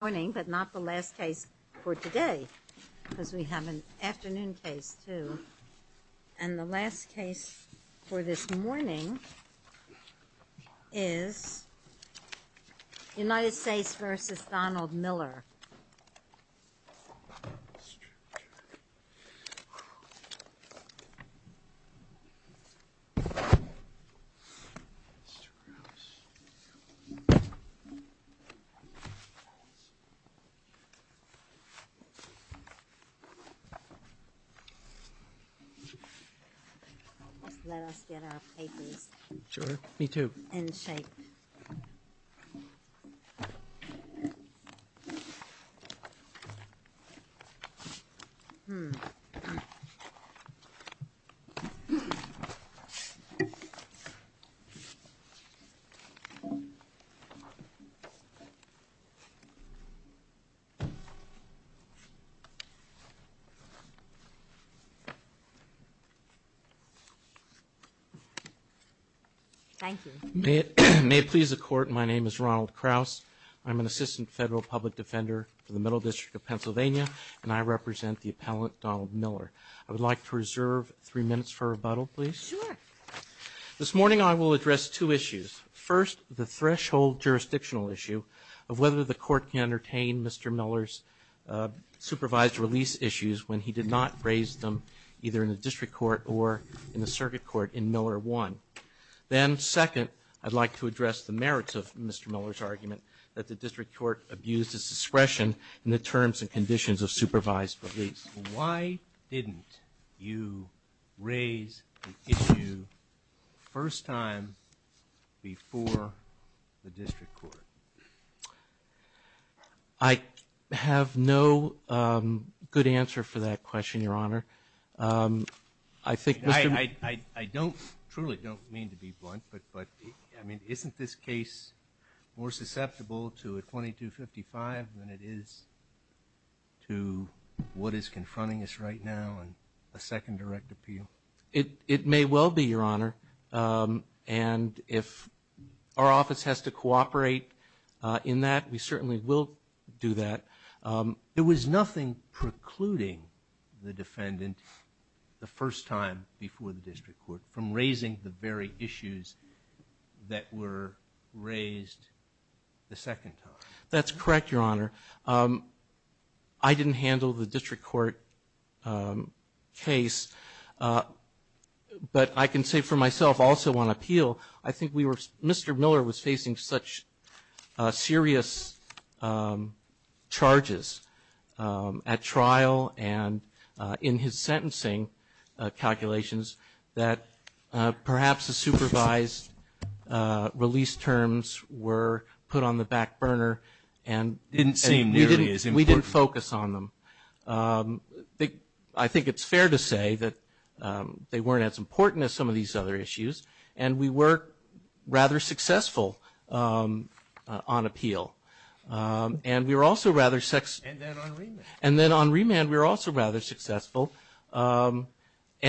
The last case for this morning, but not the last case for today, because we have an afternoon case, too. And the last case for this morning is United States v. Donald Miller Let us get our papers in shape. Thank you. May it please the Court, my name is Ronald Kraus. I'm an assistant federal public defender for the Middle District of Pennsylvania, and I represent the appellant Donald Miller. I would like to reserve three minutes for rebuttal, please. This morning I will address two issues. First, the threshold jurisdictional issue of whether the Court can entertain Mr. Miller's supervised release issues when he did not raise them either in the district court or in the circuit court in Miller 1. Then, second, I'd like to address the merits of Mr. Miller's argument that the district court abused its discretion in the terms and conditions of supervised release. Why didn't you raise the issue the first time before the district court? I have no good answer for that question, Your Honor. I truly don't mean to be blunt, but isn't this case more susceptible to a 2255 than it is to what is confronting us right now and a second direct appeal? It may well be, Your Honor. And if our office has to cooperate in that, we certainly will do that. It was nothing precluding the defendant the first time before the district court from raising the very issues that were raised the second time. That's correct, Your Honor. I didn't handle the district court case, but I can say for myself also on appeal, I think Mr. Miller was facing such serious charges at trial and in his sentencing calculations that perhaps the supervised release terms were put on the back burner and we didn't focus on them. I think it's fair to say that they weren't as important as some of these other issues. And we were rather successful on appeal. And we were also rather successful. And then on remand. And then on remand, we were also rather successful. And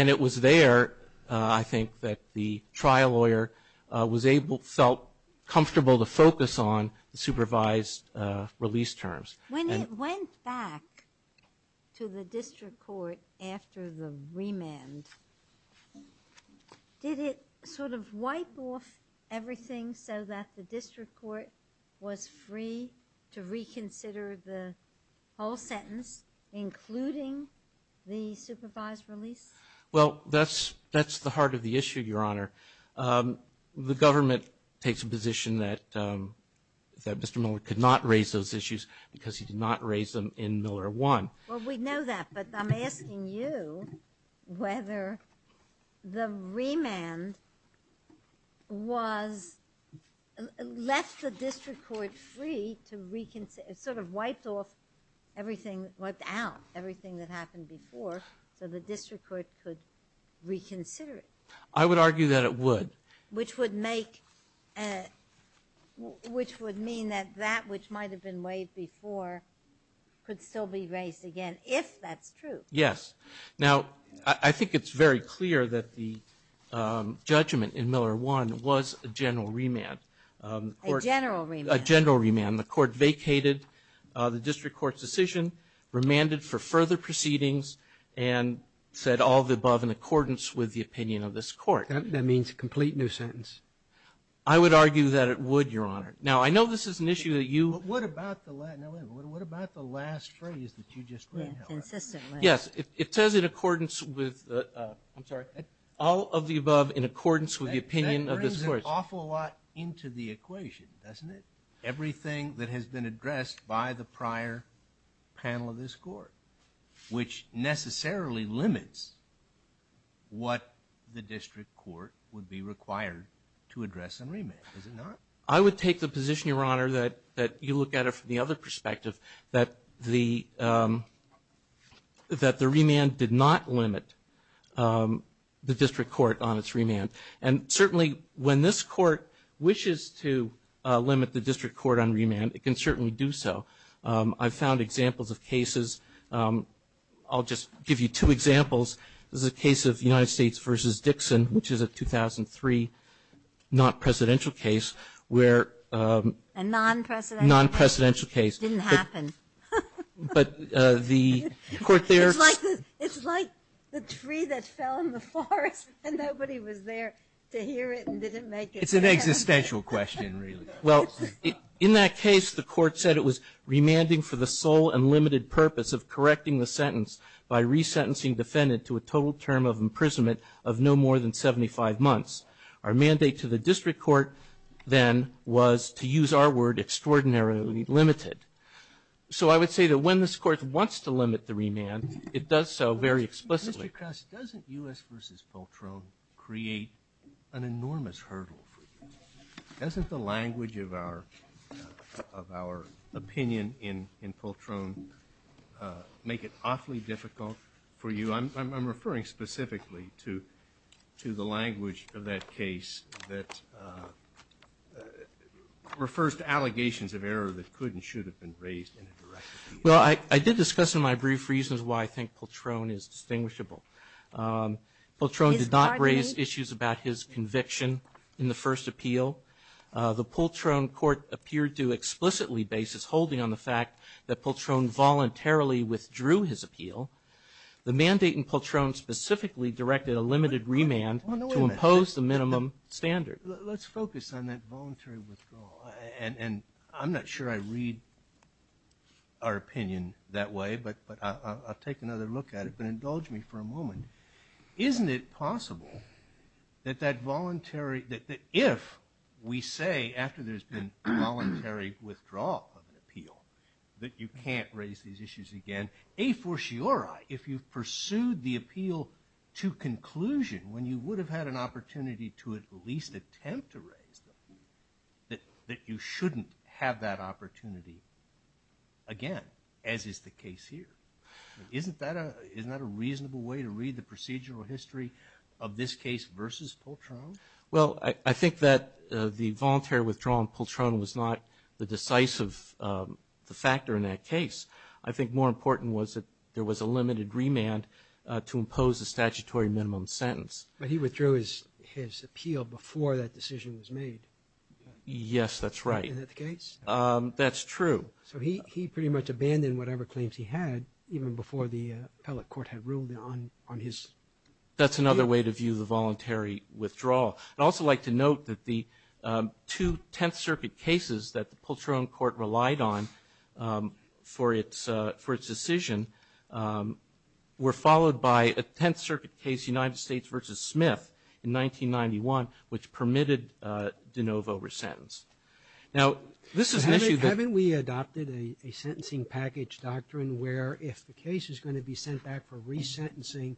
it was there, I think, that the trial lawyer was able, felt comfortable to focus on the supervised release terms. When it went back to the district court after the remand, did it sort of wipe off everything so that the district court was free to reconsider the whole sentence, including the supervised release? Well, that's the heart of the issue, Your Honor. The government takes a position that Mr. Miller could not raise those issues because he did not raise them in Miller 1. Well, we know that, but I'm asking you whether the remand was left the district court free to reconsider, sort of wiped off everything, wiped out everything that happened before. So the district court could reconsider it. I would argue that it would. Which would make, which would mean that that which might have been waived before could still be raised again, if that's true. Yes. Now, I think it's very clear that the judgment in Miller 1 was a general remand. A general remand. A general remand. The court vacated the district court's decision, remanded for further proceedings, and said all of the above in accordance with the opinion of this court. That means a complete new sentence. I would argue that it would, Your Honor. Now, I know this is an issue that you- But what about the last phrase that you just read, however? Yeah, consistently. Yes, it says in accordance with, I'm sorry, all of the above in accordance with the opinion of this court. That brings an awful lot into the equation, doesn't it? Everything that has been addressed by the prior panel of this court, which necessarily limits what the district court would be required to address in remand. Is it not? I would take the position, Your Honor, that you look at it from the other perspective, that the remand did not limit the district court on its remand. And certainly, when this court wishes to limit the district court on remand, it can certainly do so. I've found examples of cases, I'll just give you two examples. This is a case of United States v. Dixon, which is a 2003 non-presidential case where- A non-presidential case. Non-presidential case. Didn't happen. But the court there- It's like the tree that fell in the forest and nobody was there to hear it and didn't make it. It's an existential question, really. Well, in that case, the court said it was remanding for the sole and limited purpose of correcting the sentence by resentencing defendant to a total term of imprisonment of no more than 75 months. Our mandate to the district court then was, to use our word, extraordinarily limited. So I would say that when this court wants to limit the remand, it does so very explicitly. Mr. Kress, doesn't U.S. v. Poltron create an enormous hurdle for you? Doesn't the language of our opinion in Poltron make it awfully difficult for you? I'm referring specifically to the language of that case that refers to allegations of error that could and should have been raised in a direct way. Well, I did discuss in my brief reasons why I think Poltron is distinguishable. Poltron did not raise issues about his conviction in the first appeal. The Poltron court appeared to explicitly base its holding on the fact that Poltron voluntarily withdrew his appeal. The mandate in Poltron specifically directed a limited remand to impose the minimum standard. Let's focus on that voluntary withdrawal. And I'm not sure I read our opinion that way, but I'll take another look at it. But indulge me for a moment. Isn't it possible that if we say, after there's been voluntary withdrawal of an appeal, that you can't raise these issues again, a fortiori, if you've pursued the appeal to conclusion when you would have had an opportunity to at least attempt to raise them, that you shouldn't have that opportunity again, as is the case here? Isn't that a reasonable way to read the procedural history of this case versus Poltron? Well, I think that the voluntary withdrawal in Poltron was not the decisive factor in that case. I think more important was that there was a limited remand to impose a statutory minimum sentence. But he withdrew his appeal before that decision was made. Yes, that's right. Is that the case? That's true. So he pretty much abandoned whatever claims he had, even before the appellate court had ruled on his appeal. That's another way to view the voluntary withdrawal. I'd also like to note that the two Tenth Circuit cases that the Poltron court relied on for its decision were followed by a Tenth Circuit case, United States versus Smith, in 1991, which permitted de novo resentence. Now, this is an issue that... Haven't we adopted a sentencing package doctrine where if the case is going to be sent back for resentencing,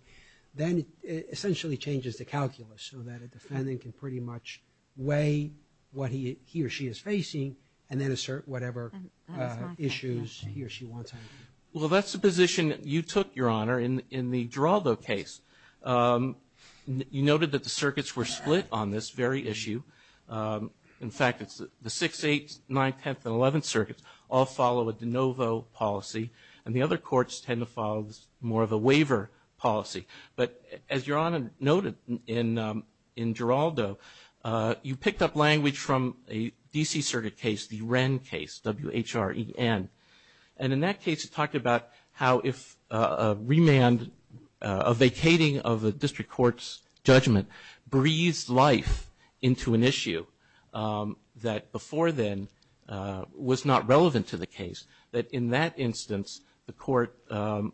then it essentially changes the calculus so that a defendant can pretty much weigh what he or she is facing and then assert whatever issues he or she wants. Well, that's the position you took, Your Honor, in the Giraldo case. You noted that the circuits were split on this very issue. In fact, it's the 6th, 8th, 9th, 10th, and 11th Circuits all follow a de novo policy, and the other courts tend to follow more of a waiver policy. But as Your Honor noted in Giraldo, you picked up language from a D.C. Circuit case, the Wren case, W-H-R-E-N. And in that case, it talked about how if a remand, a vacating of a district court's judgment breathes life into an issue that before then was not relevant to the case, that in that instance, the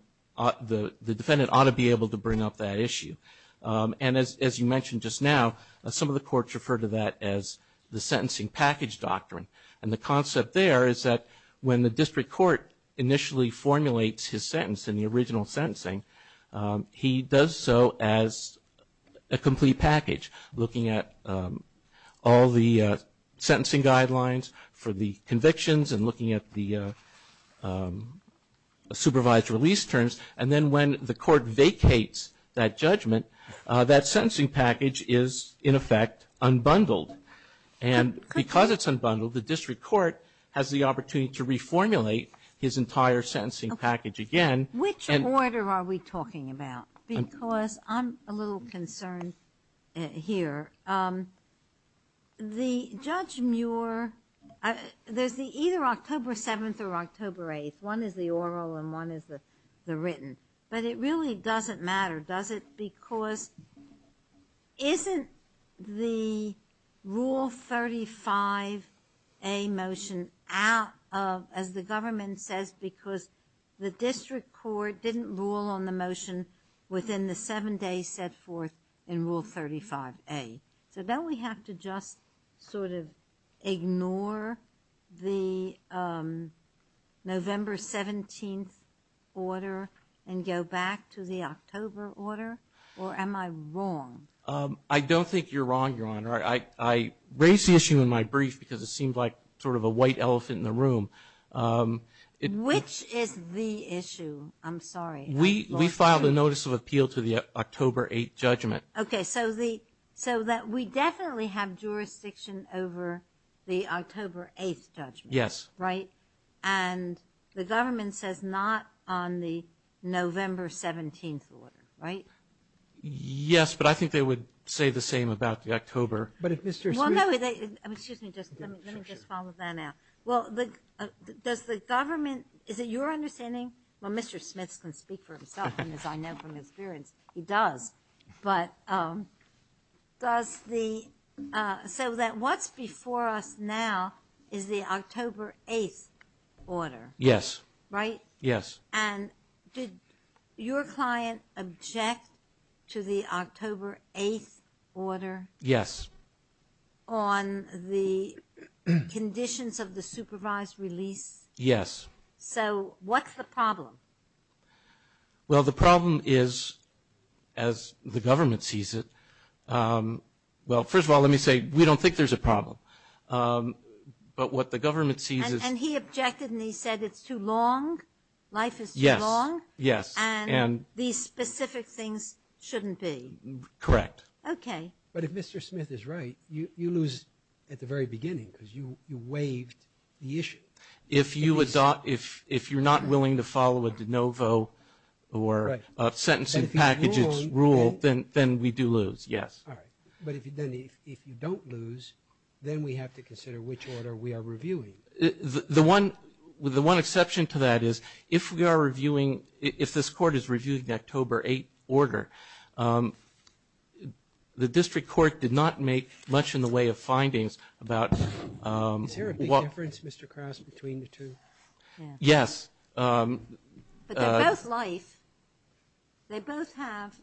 defendant ought to be able to bring up that issue. And as you mentioned just now, some of the courts refer to that as the sentencing package doctrine. And the concept there is that when the district court initially formulates his sentence in the original sentencing, he does so as a complete package, looking at all the sentencing guidelines for the convictions and looking at the supervised release terms. And then when the court vacates that judgment, that sentencing package is, in effect, unbundled. And because it's unbundled, the district court has the opportunity to reformulate his entire sentencing package again. Okay. Which order are we talking about? Because I'm a little concerned here. The Judge Muir, there's the either October 7th or October 8th. One is the oral and one is the written. But it really doesn't matter, does it, because isn't the Rule 35A motion out of, as the government motion says, because the district court didn't rule on the motion within the seven days set forth in Rule 35A. So don't we have to just sort of ignore the November 17th order and go back to the October order? Or am I wrong? I don't think you're wrong, Your Honor. I raised the issue in my brief because it seemed like sort of a white elephant in the room. Which is the issue? I'm sorry. We filed a notice of appeal to the October 8th judgment. Okay. So we definitely have jurisdiction over the October 8th judgment. Yes. Right? And the government says not on the November 17th order, right? Yes, but I think they would say the same about the October. But if Mr. Smith... Well, no, excuse me. Let me just follow that up. Well, does the government, is it your understanding, well, Mr. Smith can speak for himself, and as I know from experience, he does. But does the, so that what's before us now is the October 8th order. Yes. Right? Yes. And did your client object to the October 8th order? Yes. On the conditions of the supervised release? Yes. So what's the problem? Well, the problem is, as the government sees it, well, first of all, let me say, we don't think there's a problem. But what the government sees is... And he objected and he said it's too long? Yes. Life is too long? Yes. And these specific things shouldn't be? Correct. Okay. But if Mr. Smith is right, you lose at the very beginning, because you waived the issue. If you're not willing to follow a de novo or a sentencing package rule, then we do lose, yes. All right. But if you don't lose, then we have to consider which order we are reviewing. The one exception to that is, if we are reviewing, if this Court is reviewing the October 8th order, the district court did not make much in the way of findings about... Is there a big difference, Mr. Kraus, between the two? Yes. But they're both life. They both have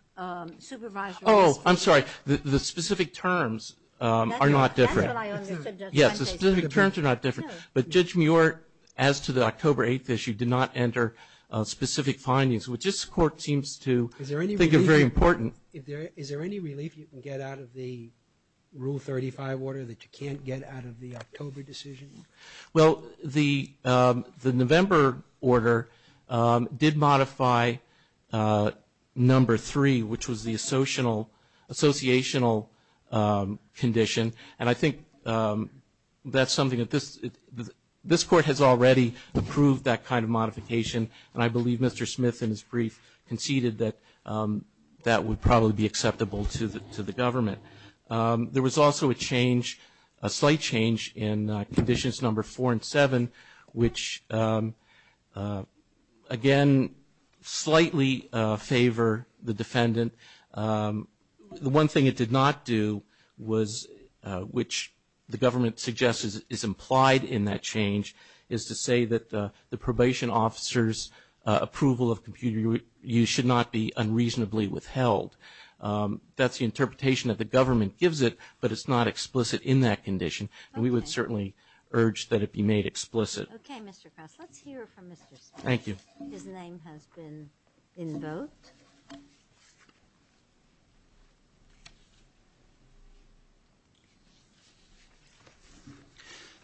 supervised release. Oh, I'm sorry. The specific terms are not different. That's what I understood. Yes. The specific terms are not different. Sure. But Judge Muir, as to the October 8th issue, did not enter specific findings, which this Court seems to think are very important. Is there any relief you can get out of the Rule 35 order that you can't get out of the October decision? Well, the November order did modify number three, which was the associational condition. And I think that's something that this Court has already approved that kind of modification. And I believe Mr. Smith, in his brief, conceded that that would probably be acceptable to the government. There was also a change, a slight change, in conditions number four and seven, which, again, slightly favor the defendant. The one thing it did not do, which the government suggests is implied in that change, is to say that the probation officer's approval of computer use should not be unreasonably withheld. That's the interpretation that the government gives it, but it's not explicit in that condition. And we would certainly urge that it be made explicit. Okay, Mr. Cross. Let's hear from Mr. Smith. Thank you. His name has been invoked.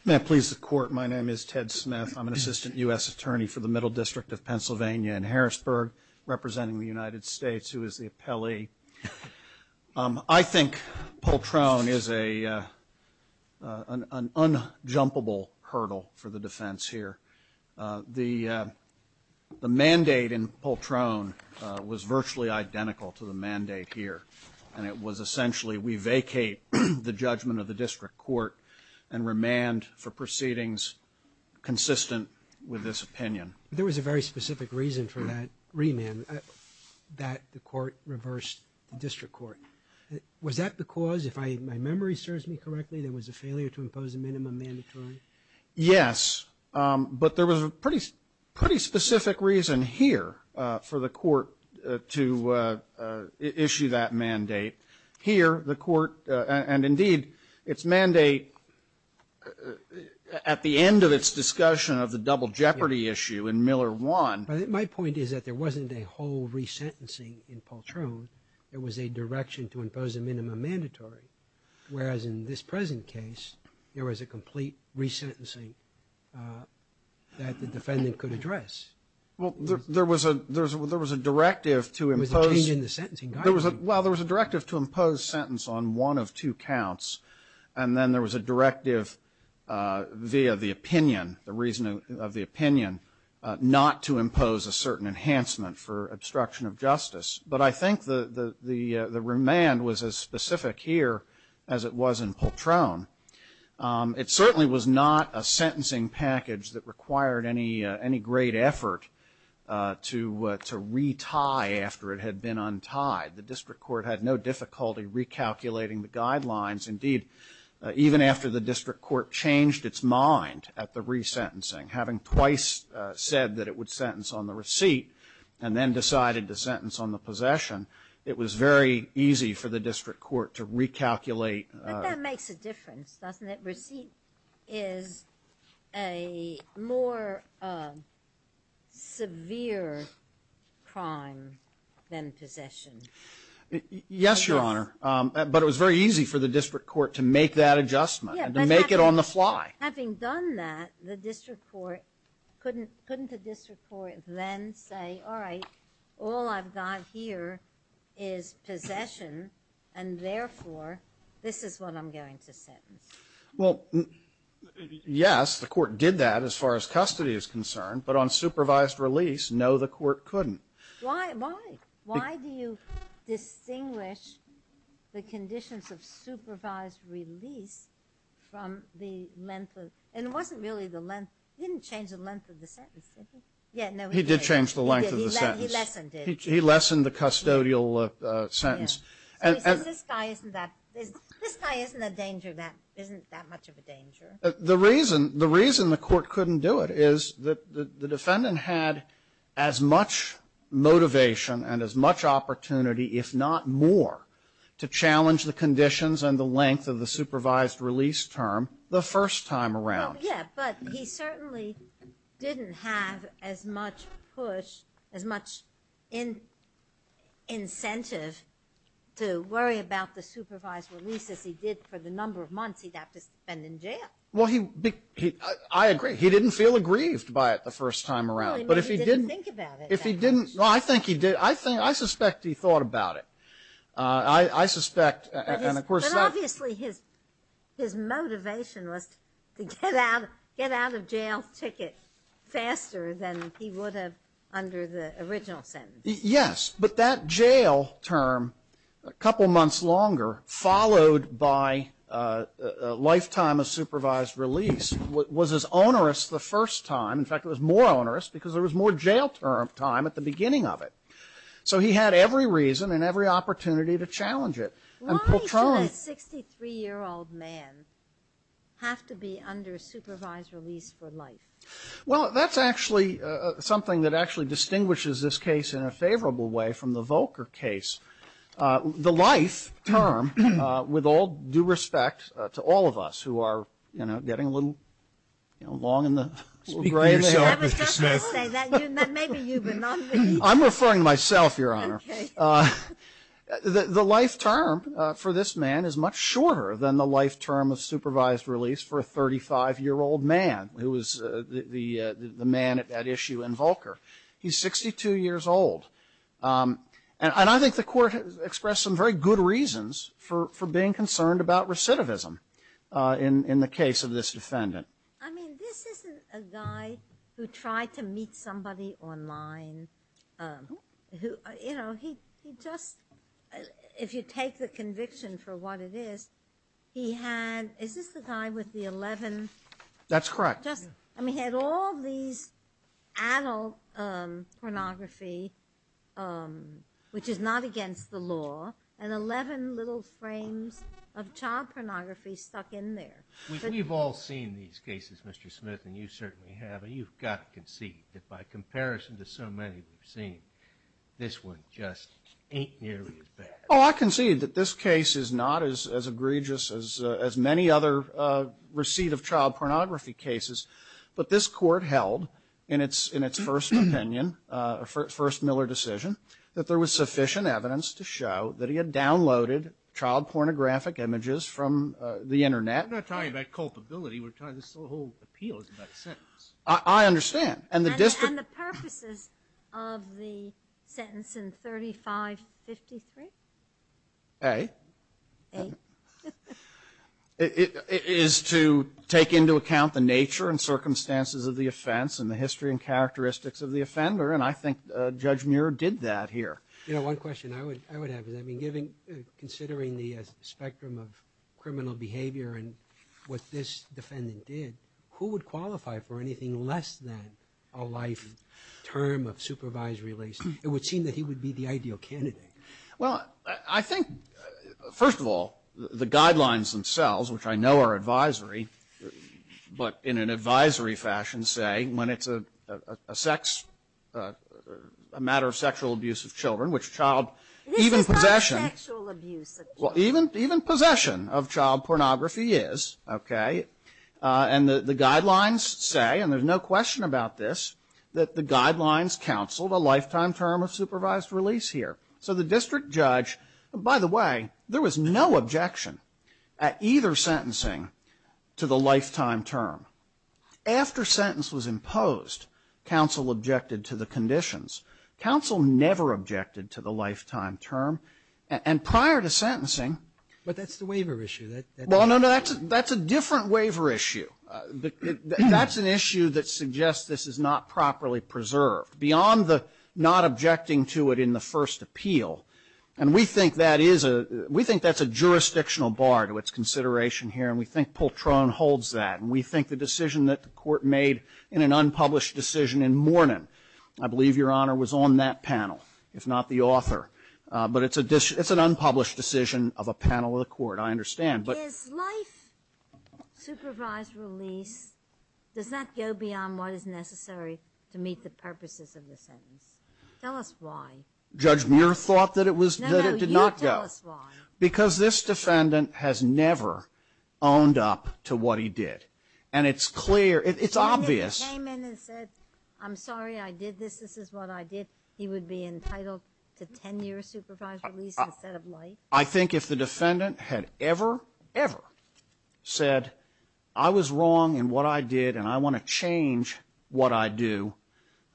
May I please the Court? My name is Ted Smith. I'm an assistant U.S. attorney for the Middle District of Pennsylvania in Harrisburg, representing the United States, who is the appellee. I think Poltrone is an unjumpable hurdle for the defense here. The mandate in Poltrone was virtually identical to the mandate here, and it was essentially we vacate the judgment of the district court and remand for proceedings consistent with this opinion. There was a very specific reason for that remand, that the court reversed the district court. Was that because, if my memory serves me correctly, there was a failure to impose a minimum mandatory? Yes, but there was a pretty specific reason here for the court to issue that mandate. Here, the court, and indeed, its mandate at the end of its discussion of the double jeopardy issue in Miller 1. My point is that there wasn't a whole resentencing in Poltrone. There was a direction to impose a minimum mandatory, whereas in this present case, there was a complete resentencing that the defendant could address. Well, there was a directive to impose sentence on one of two counts, and then there was a directive via the opinion, the reason of the opinion, not to impose a certain enhancement for obstruction of justice. But I think the remand was as specific here as it was in Poltrone. It certainly was not a sentencing package that required any great effort to retie after it had been untied. The district court had no difficulty recalculating the guidelines, indeed, even after the district court changed its mind at the resentencing, having twice said that it would sentence on possession, it was very easy for the district court to recalculate. But that makes a difference, doesn't it? Receipt is a more severe crime than possession. Yes, Your Honor, but it was very easy for the district court to make that adjustment and to make it on the fly. Having done that, couldn't the district court then say, all right, all I've got here is possession, and therefore, this is what I'm going to sentence? Well, yes, the court did that as far as custody is concerned, but on supervised release, no, the court couldn't. Why? Why do you distinguish the conditions of supervised release from the length of, and it wasn't really the length, he didn't change the length of the sentence, did he? Yeah, no, he did. He did change the length of the sentence. He lessened it. He lessened the custodial sentence. So he says this guy isn't that, this guy isn't a danger, isn't that much of a danger. The reason the court couldn't do it is that the defendant had as much motivation and as much opportunity, if not more, to challenge the conditions and the length of the supervised release term the first time around. Yeah, but he certainly didn't have as much push, as much incentive to worry about the Well, he, I agree. He didn't feel aggrieved by it the first time around. But if he didn't. He didn't think about it that much. If he didn't, well, I think he did. I think, I suspect he thought about it. I suspect, and of course. But obviously, his motivation was to get out of jail ticket faster than he would have under the original sentence. Yes. But that jail term, a couple months longer, followed by a lifetime of supervised release, was as onerous the first time. In fact, it was more onerous because there was more jail time at the beginning of it. So he had every reason and every opportunity to challenge it. Why does a 63-year-old man have to be under supervised release for life? Well, that's actually something that actually distinguishes this case in a favorable way from the Volcker case. The life term, with all due respect to all of us who are, you know, getting a little, you know, long in the little gray there. I was just going to say that. That may be you, but not me. I'm referring to myself, Your Honor. Okay. The life term for this man is much shorter than the life term of supervised release for a 35-year-old man who was the man at that issue in Volcker. He's 62 years old. And I think the Court has expressed some very good reasons for being concerned about recidivism in the case of this defendant. I mean, this isn't a guy who tried to meet somebody online who, you know, he just, if you take the conviction for what it is, he had, is this the guy with the 11? That's correct. I mean, he had all these adult pornography, which is not against the law, and 11 little frames of child pornography stuck in there. We've all seen these cases, Mr. Smith, and you certainly have, and you've got to concede that by comparison to so many we've seen, this one just ain't nearly as bad. Oh, I concede that this case is not as egregious as many other receipt of child pornography cases, but this Court held in its first opinion, first Miller decision, that there was sufficient evidence to show that he had downloaded child pornographic images from the Internet. We're not talking about culpability. We're talking, this whole appeal is about a sentence. I understand. And the district... And the purposes of the sentence in 3553? A. A. It is to take into account the nature and circumstances of the offense and the history and characteristics of the offender, and I think Judge Muir did that here. You know, one question I would have is, I mean, considering the spectrum of criminal behavior and what this defendant did, who would qualify for anything less than a life term of supervisory release? It would seem that he would be the ideal candidate. Well, I think, first of all, the guidelines themselves, which I know are advisory, but in an advisory fashion, say, when it's a sex, a matter of sexual abuse of children, which child... This is not sexual abuse of children. Well, even possession of child pornography is, okay? And the guidelines say, and there's no question about this, that the guidelines counseled a lifetime term of supervised release here. So the district judge... By the way, there was no objection at either sentencing to the lifetime term. After sentence was imposed, counsel objected to the conditions. Counsel never objected to the lifetime term. And prior to sentencing... But that's the waiver issue. Well, no, no. That's a different waiver issue. That's an issue that suggests this is not properly preserved, beyond the not objecting to it in the first appeal. And we think that is a we think that's a jurisdictional bar to its consideration here, and we think Pultrone holds that. And we think the decision that the Court made in an unpublished decision in Mornin, I believe, Your Honor, was on that panel, if not the author. But it's an unpublished decision of a panel of the Court, I understand. But... Is life supervised release, does that go beyond what is necessary to meet the purposes of the sentence? Tell us why. Judge Muir thought that it was... No, no, you tell us why. Because this defendant has never owned up to what he did. And it's clear, it's obvious... I did this, this is what I did. He would be entitled to 10 years supervised release instead of life. I think if the defendant had ever, ever said, I was wrong in what I did and I want to change what I do,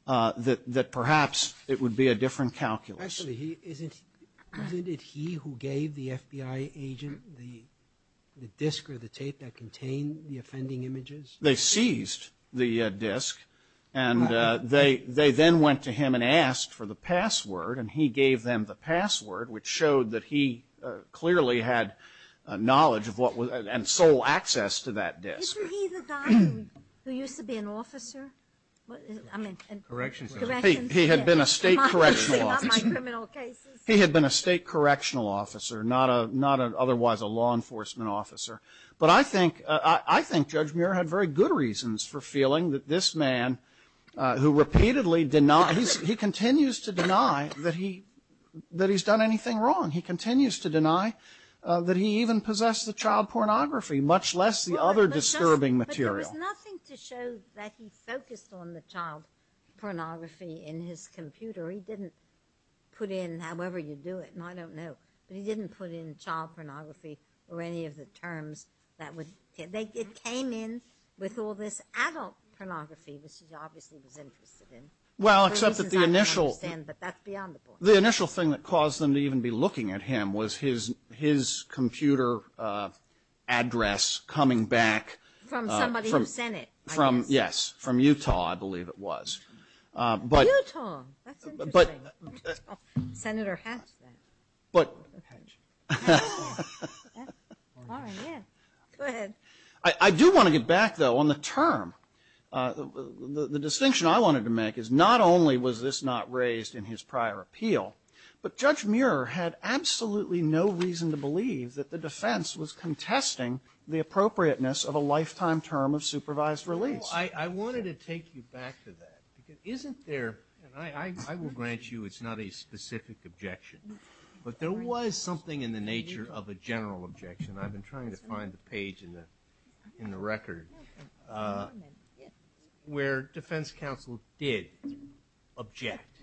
that perhaps it would be a different calculus. Actually, isn't it he who gave the FBI agent the disc or the tape that contained the offending images? They seized the disc and they then went to him and asked for the password and he gave them the password, which showed that he clearly had knowledge of what was, and sole access to that disc. Isn't he the guy who used to be an officer? I mean... Corrections officer. He had been a state correctional officer. He had been a state correctional officer, not otherwise a law enforcement officer. But I think, I think Judge Muir had very good reasons for feeling that this man, who repeatedly denies, he continues to deny that he's done anything wrong. He continues to deny that he even possessed the child pornography, much less the other disturbing material. But there was nothing to show that he focused on the child pornography in his computer. He didn't put in, however you do it, and I don't know, but he didn't put in child pornography or any of the terms that would, it came in with all this adult pornography, which he obviously was interested in. Well, except that the initial... For reasons I don't understand, but that's beyond the point. The initial thing that caused them to even be looking at him was his, his computer address coming back... From somebody who sent it, I guess. From, yes, from Utah, I believe it was. But... Utah, that's interesting. But... Senator Hatch then. But... Hatch. All right. Yeah. Go ahead. I do want to get back, though, on the term. The distinction I wanted to make is not only was this not raised in his prior appeal, but Judge Muir had absolutely no reason to believe that the defense was contesting the appropriateness of a lifetime term of supervised release. I wanted to take you back to that, because isn't there, and I will grant you it's not a specific objection, but there was something in the nature of a general objection, I've been trying to find the page in the, in the record, where defense counsel did object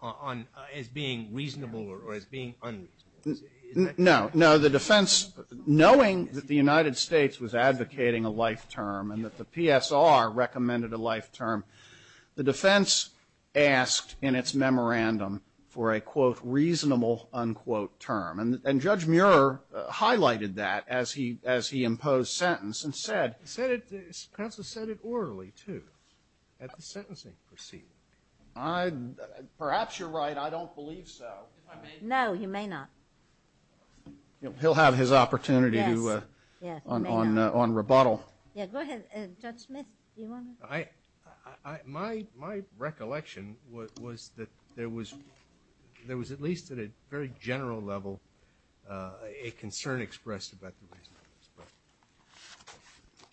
on, as being reasonable or as being unreasonable. No. No, the defense, knowing that the United States was advocating a life term and that the PSR for a, quote, reasonable, unquote, term. And Judge Muir highlighted that as he, as he imposed sentence and said, said it, counsel said it orally, too, at the sentencing proceeding. Perhaps you're right. I don't believe so. If I may. No, you may not. He'll have his opportunity to, on, on, on rebuttal. Yeah. Go ahead. Judge Smith. Do you want to? I, I, I, I, my, my recollection was, was that there was, there was at least at a very general level a concern expressed about the reason for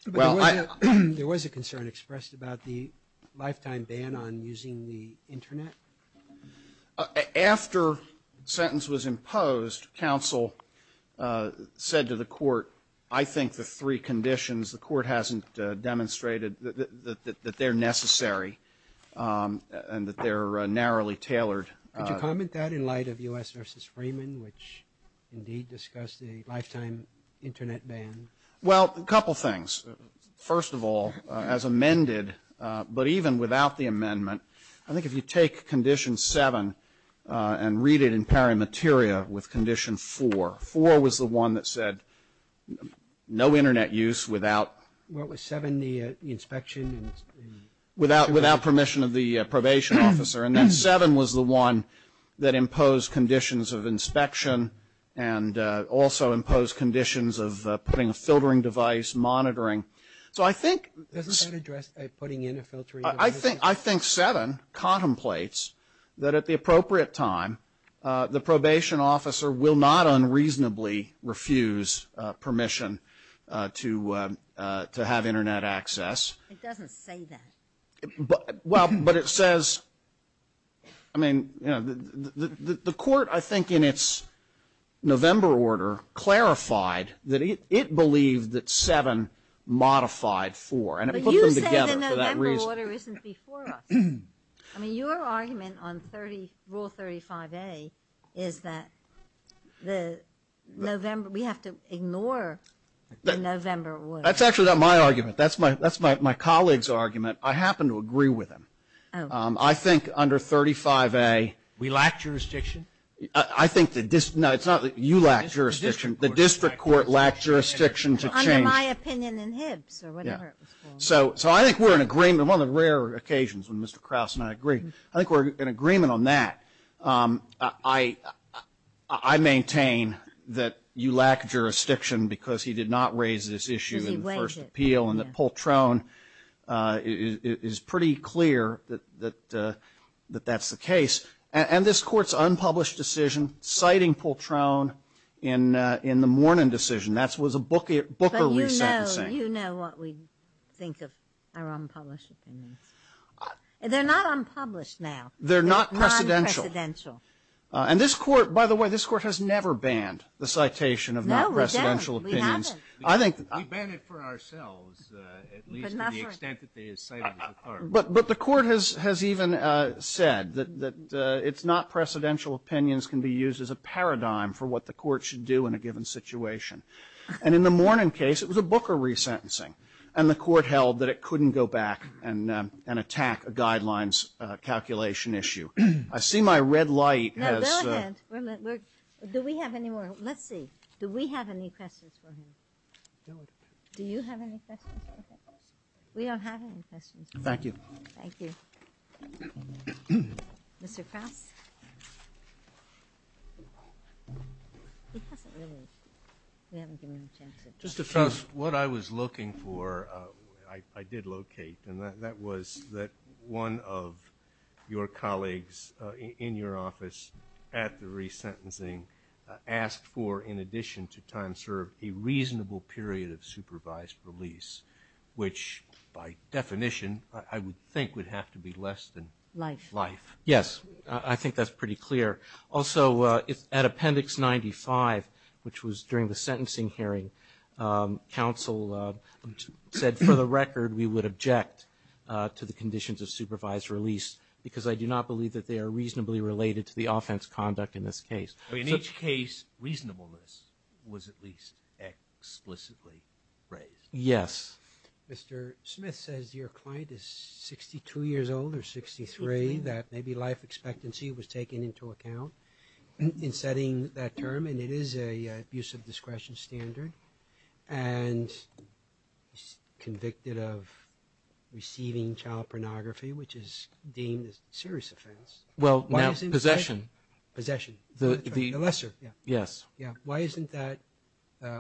the expulsion. Well, I. There was a concern expressed about the lifetime ban on using the internet? After sentence was imposed, counsel said to the court, I think the three conditions, the that, that they're necessary and that they're narrowly tailored. Could you comment that in light of U.S. v. Freeman, which indeed discussed the lifetime internet ban? Well, a couple things. First of all, as amended, but even without the amendment, I think if you take condition seven and read it in pari materia with condition four, four was the one that said no internet use without. What was seven? The inspection and. Without permission of the probation officer and then seven was the one that imposed conditions of inspection and also imposed conditions of putting a filtering device, monitoring. So I think. Doesn't that address putting in a filtering device? I think seven contemplates that at the appropriate time, the probation officer will not unreasonably refuse permission to to have internet access. It doesn't say that. But well, but it says. I mean, you know, the court, I think in its November order, clarified that it believed that seven modified four and it put them together for that reason. I mean, your argument on 30 rule 35A is that the November, we have to ignore the November order. That's actually not my argument. That's my that's my colleague's argument. I happen to agree with him. I think under 35A. We lack jurisdiction. I think that this. No, it's not that you lack jurisdiction. The district court lacked jurisdiction to change my opinion in Hibbs or whatever. So so I think we're in agreement on the rare occasions when Mr. Krause and I agree. I think we're in agreement on that. I, I maintain that you lack jurisdiction because he did not raise this issue in the first appeal and that Poltrone is pretty clear that that that that's the case. And this court's unpublished decision citing Poltrone in in the morning decision. That's was a book. Booker. You know, you know what we think of our unpublished opinions and they're not unpublished now. They're not presidential and this court, by the way, this court has never banned the citation of non-presidential opinions. I think I've been it for ourselves, at least to the extent that they say, but but the court has has even said that it's not precedential opinions can be used as a paradigm for what the court should do in a given situation. And in the morning case, it was a Booker resentencing and the court held that it couldn't go back and and attack a guidelines calculation issue. I see my red light has. Do we have any more? Let's see. Do we have any questions for him? Do you have any questions? We don't have any questions. Thank you. Thank you. Mr. Krause. Mr. Krause, what I was looking for, I did locate, and that was that one of your colleagues in your office at the resentencing asked for, in addition to time served, a reasonable period of supervised release, which by definition I would think would have to be less than life. Yes, I think that's pretty clear. Also, if at Appendix 95, which was during the sentencing hearing, counsel said, for the record, we would object to the conditions of supervised release because I do not believe that they are reasonably related to the offense conduct in this case. I mean, in each case, reasonableness was at least explicitly raised. Yes. Mr. Smith says your client is 62 years old or 63, that maybe life expectancy was taken into account in setting that term, and it is an abuse of discretion standard, and convicted of receiving child pornography, which is deemed a serious offense. Well, now, possession. Possession. The lesser. Yes. Yeah. Why isn't that,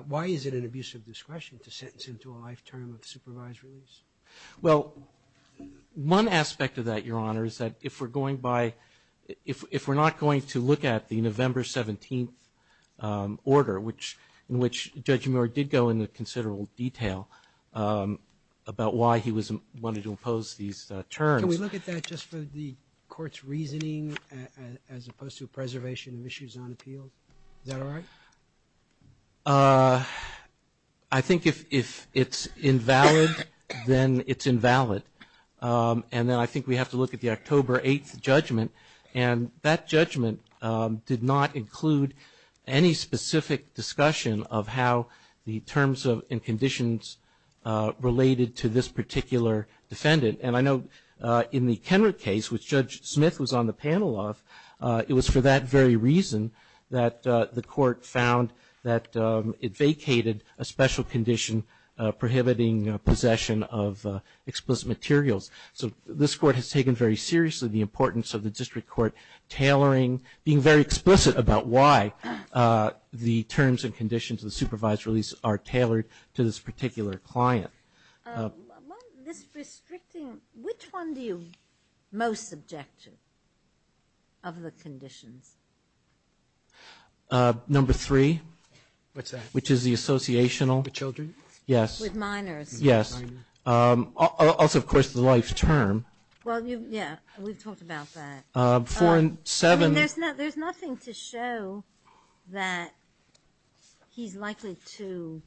why is it an abuse of discretion to sentence him to a life term of supervised release? Well, one aspect of that, Your Honor, is that if we're going by, if we're not going to look at the November 17th order, which, in which Judge Muir did go into considerable detail about why he was, wanted to impose these terms. Can we look at that just for the court's reasoning as opposed to preservation of issues on appeal? Is that all right? I think if it's invalid, then it's invalid. And then I think we have to look at the October 8th judgment, and that judgment did not include any specific discussion of how the terms and conditions related to this particular defendant. And I know in the Kenwick case, which Judge Smith was on the panel of, it was for that very reason that the court found that it vacated a special condition prohibiting possession of explicit materials. So this court has taken very seriously the importance of the district court tailoring, being very explicit about why the terms and conditions of the supervised release are tailored to this particular client. Among this restricting, which one do you most subject to of the conditions? Number three. What's that? Which is the associational. The children? Yes. With minors. Yes. Also, of course, the life term. Well, yeah. We've talked about that. Four and seven. And there's nothing to show that he's likely to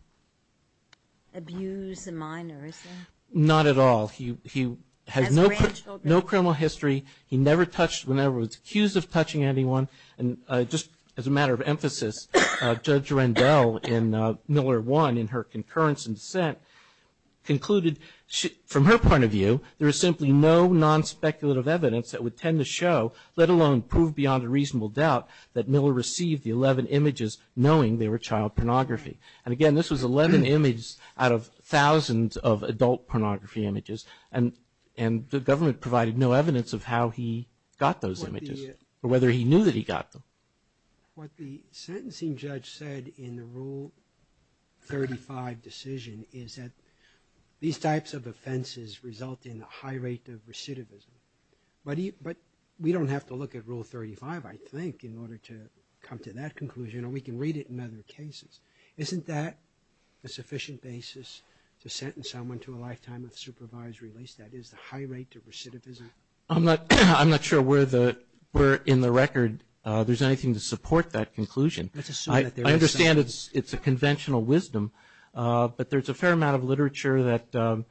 abuse a minor, is there? Not at all. He has no criminal history. He never touched, whenever he was accused of touching anyone, and just as a matter of emphasis, Judge Rendell in Miller 1, in her concurrence and dissent, concluded from her point of view, there is simply no non-speculative evidence that would tend to show, let alone prove beyond a reasonable doubt, that Miller received the 11 images knowing they were child pornography. And again, this was 11 images out of thousands of adult pornography images, and the government provided no evidence of how he got those images, or whether he knew that he got them. What the sentencing judge said in the Rule 35 decision is that these types of offenses result in a high rate of recidivism. But we don't have to look at Rule 35, I think, in order to come to that conclusion, or we can read it in other cases. Isn't that a sufficient basis to sentence someone to a lifetime of supervised release? That is, the high rate of recidivism? I'm not sure where in the record there's anything to support that conclusion. Let's assume that there is. I understand it's a conventional wisdom, but there's a fair amount of literature that,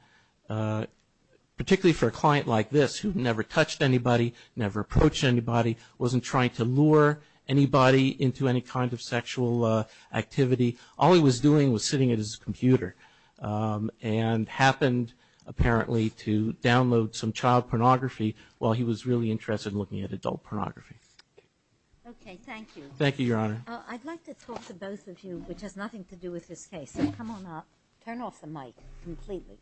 particularly for a client like this, who never touched anybody, never approached anybody, wasn't trying to lure anybody into any kind of sexual activity. All he was doing was sitting at his computer, and happened, apparently, to download some child pornography while he was really interested in looking at adult pornography. Okay, thank you. Thank you, Your Honor. I'd like to talk to both of you, which has nothing to do with this case. Come on up. Turn off the mic, completely.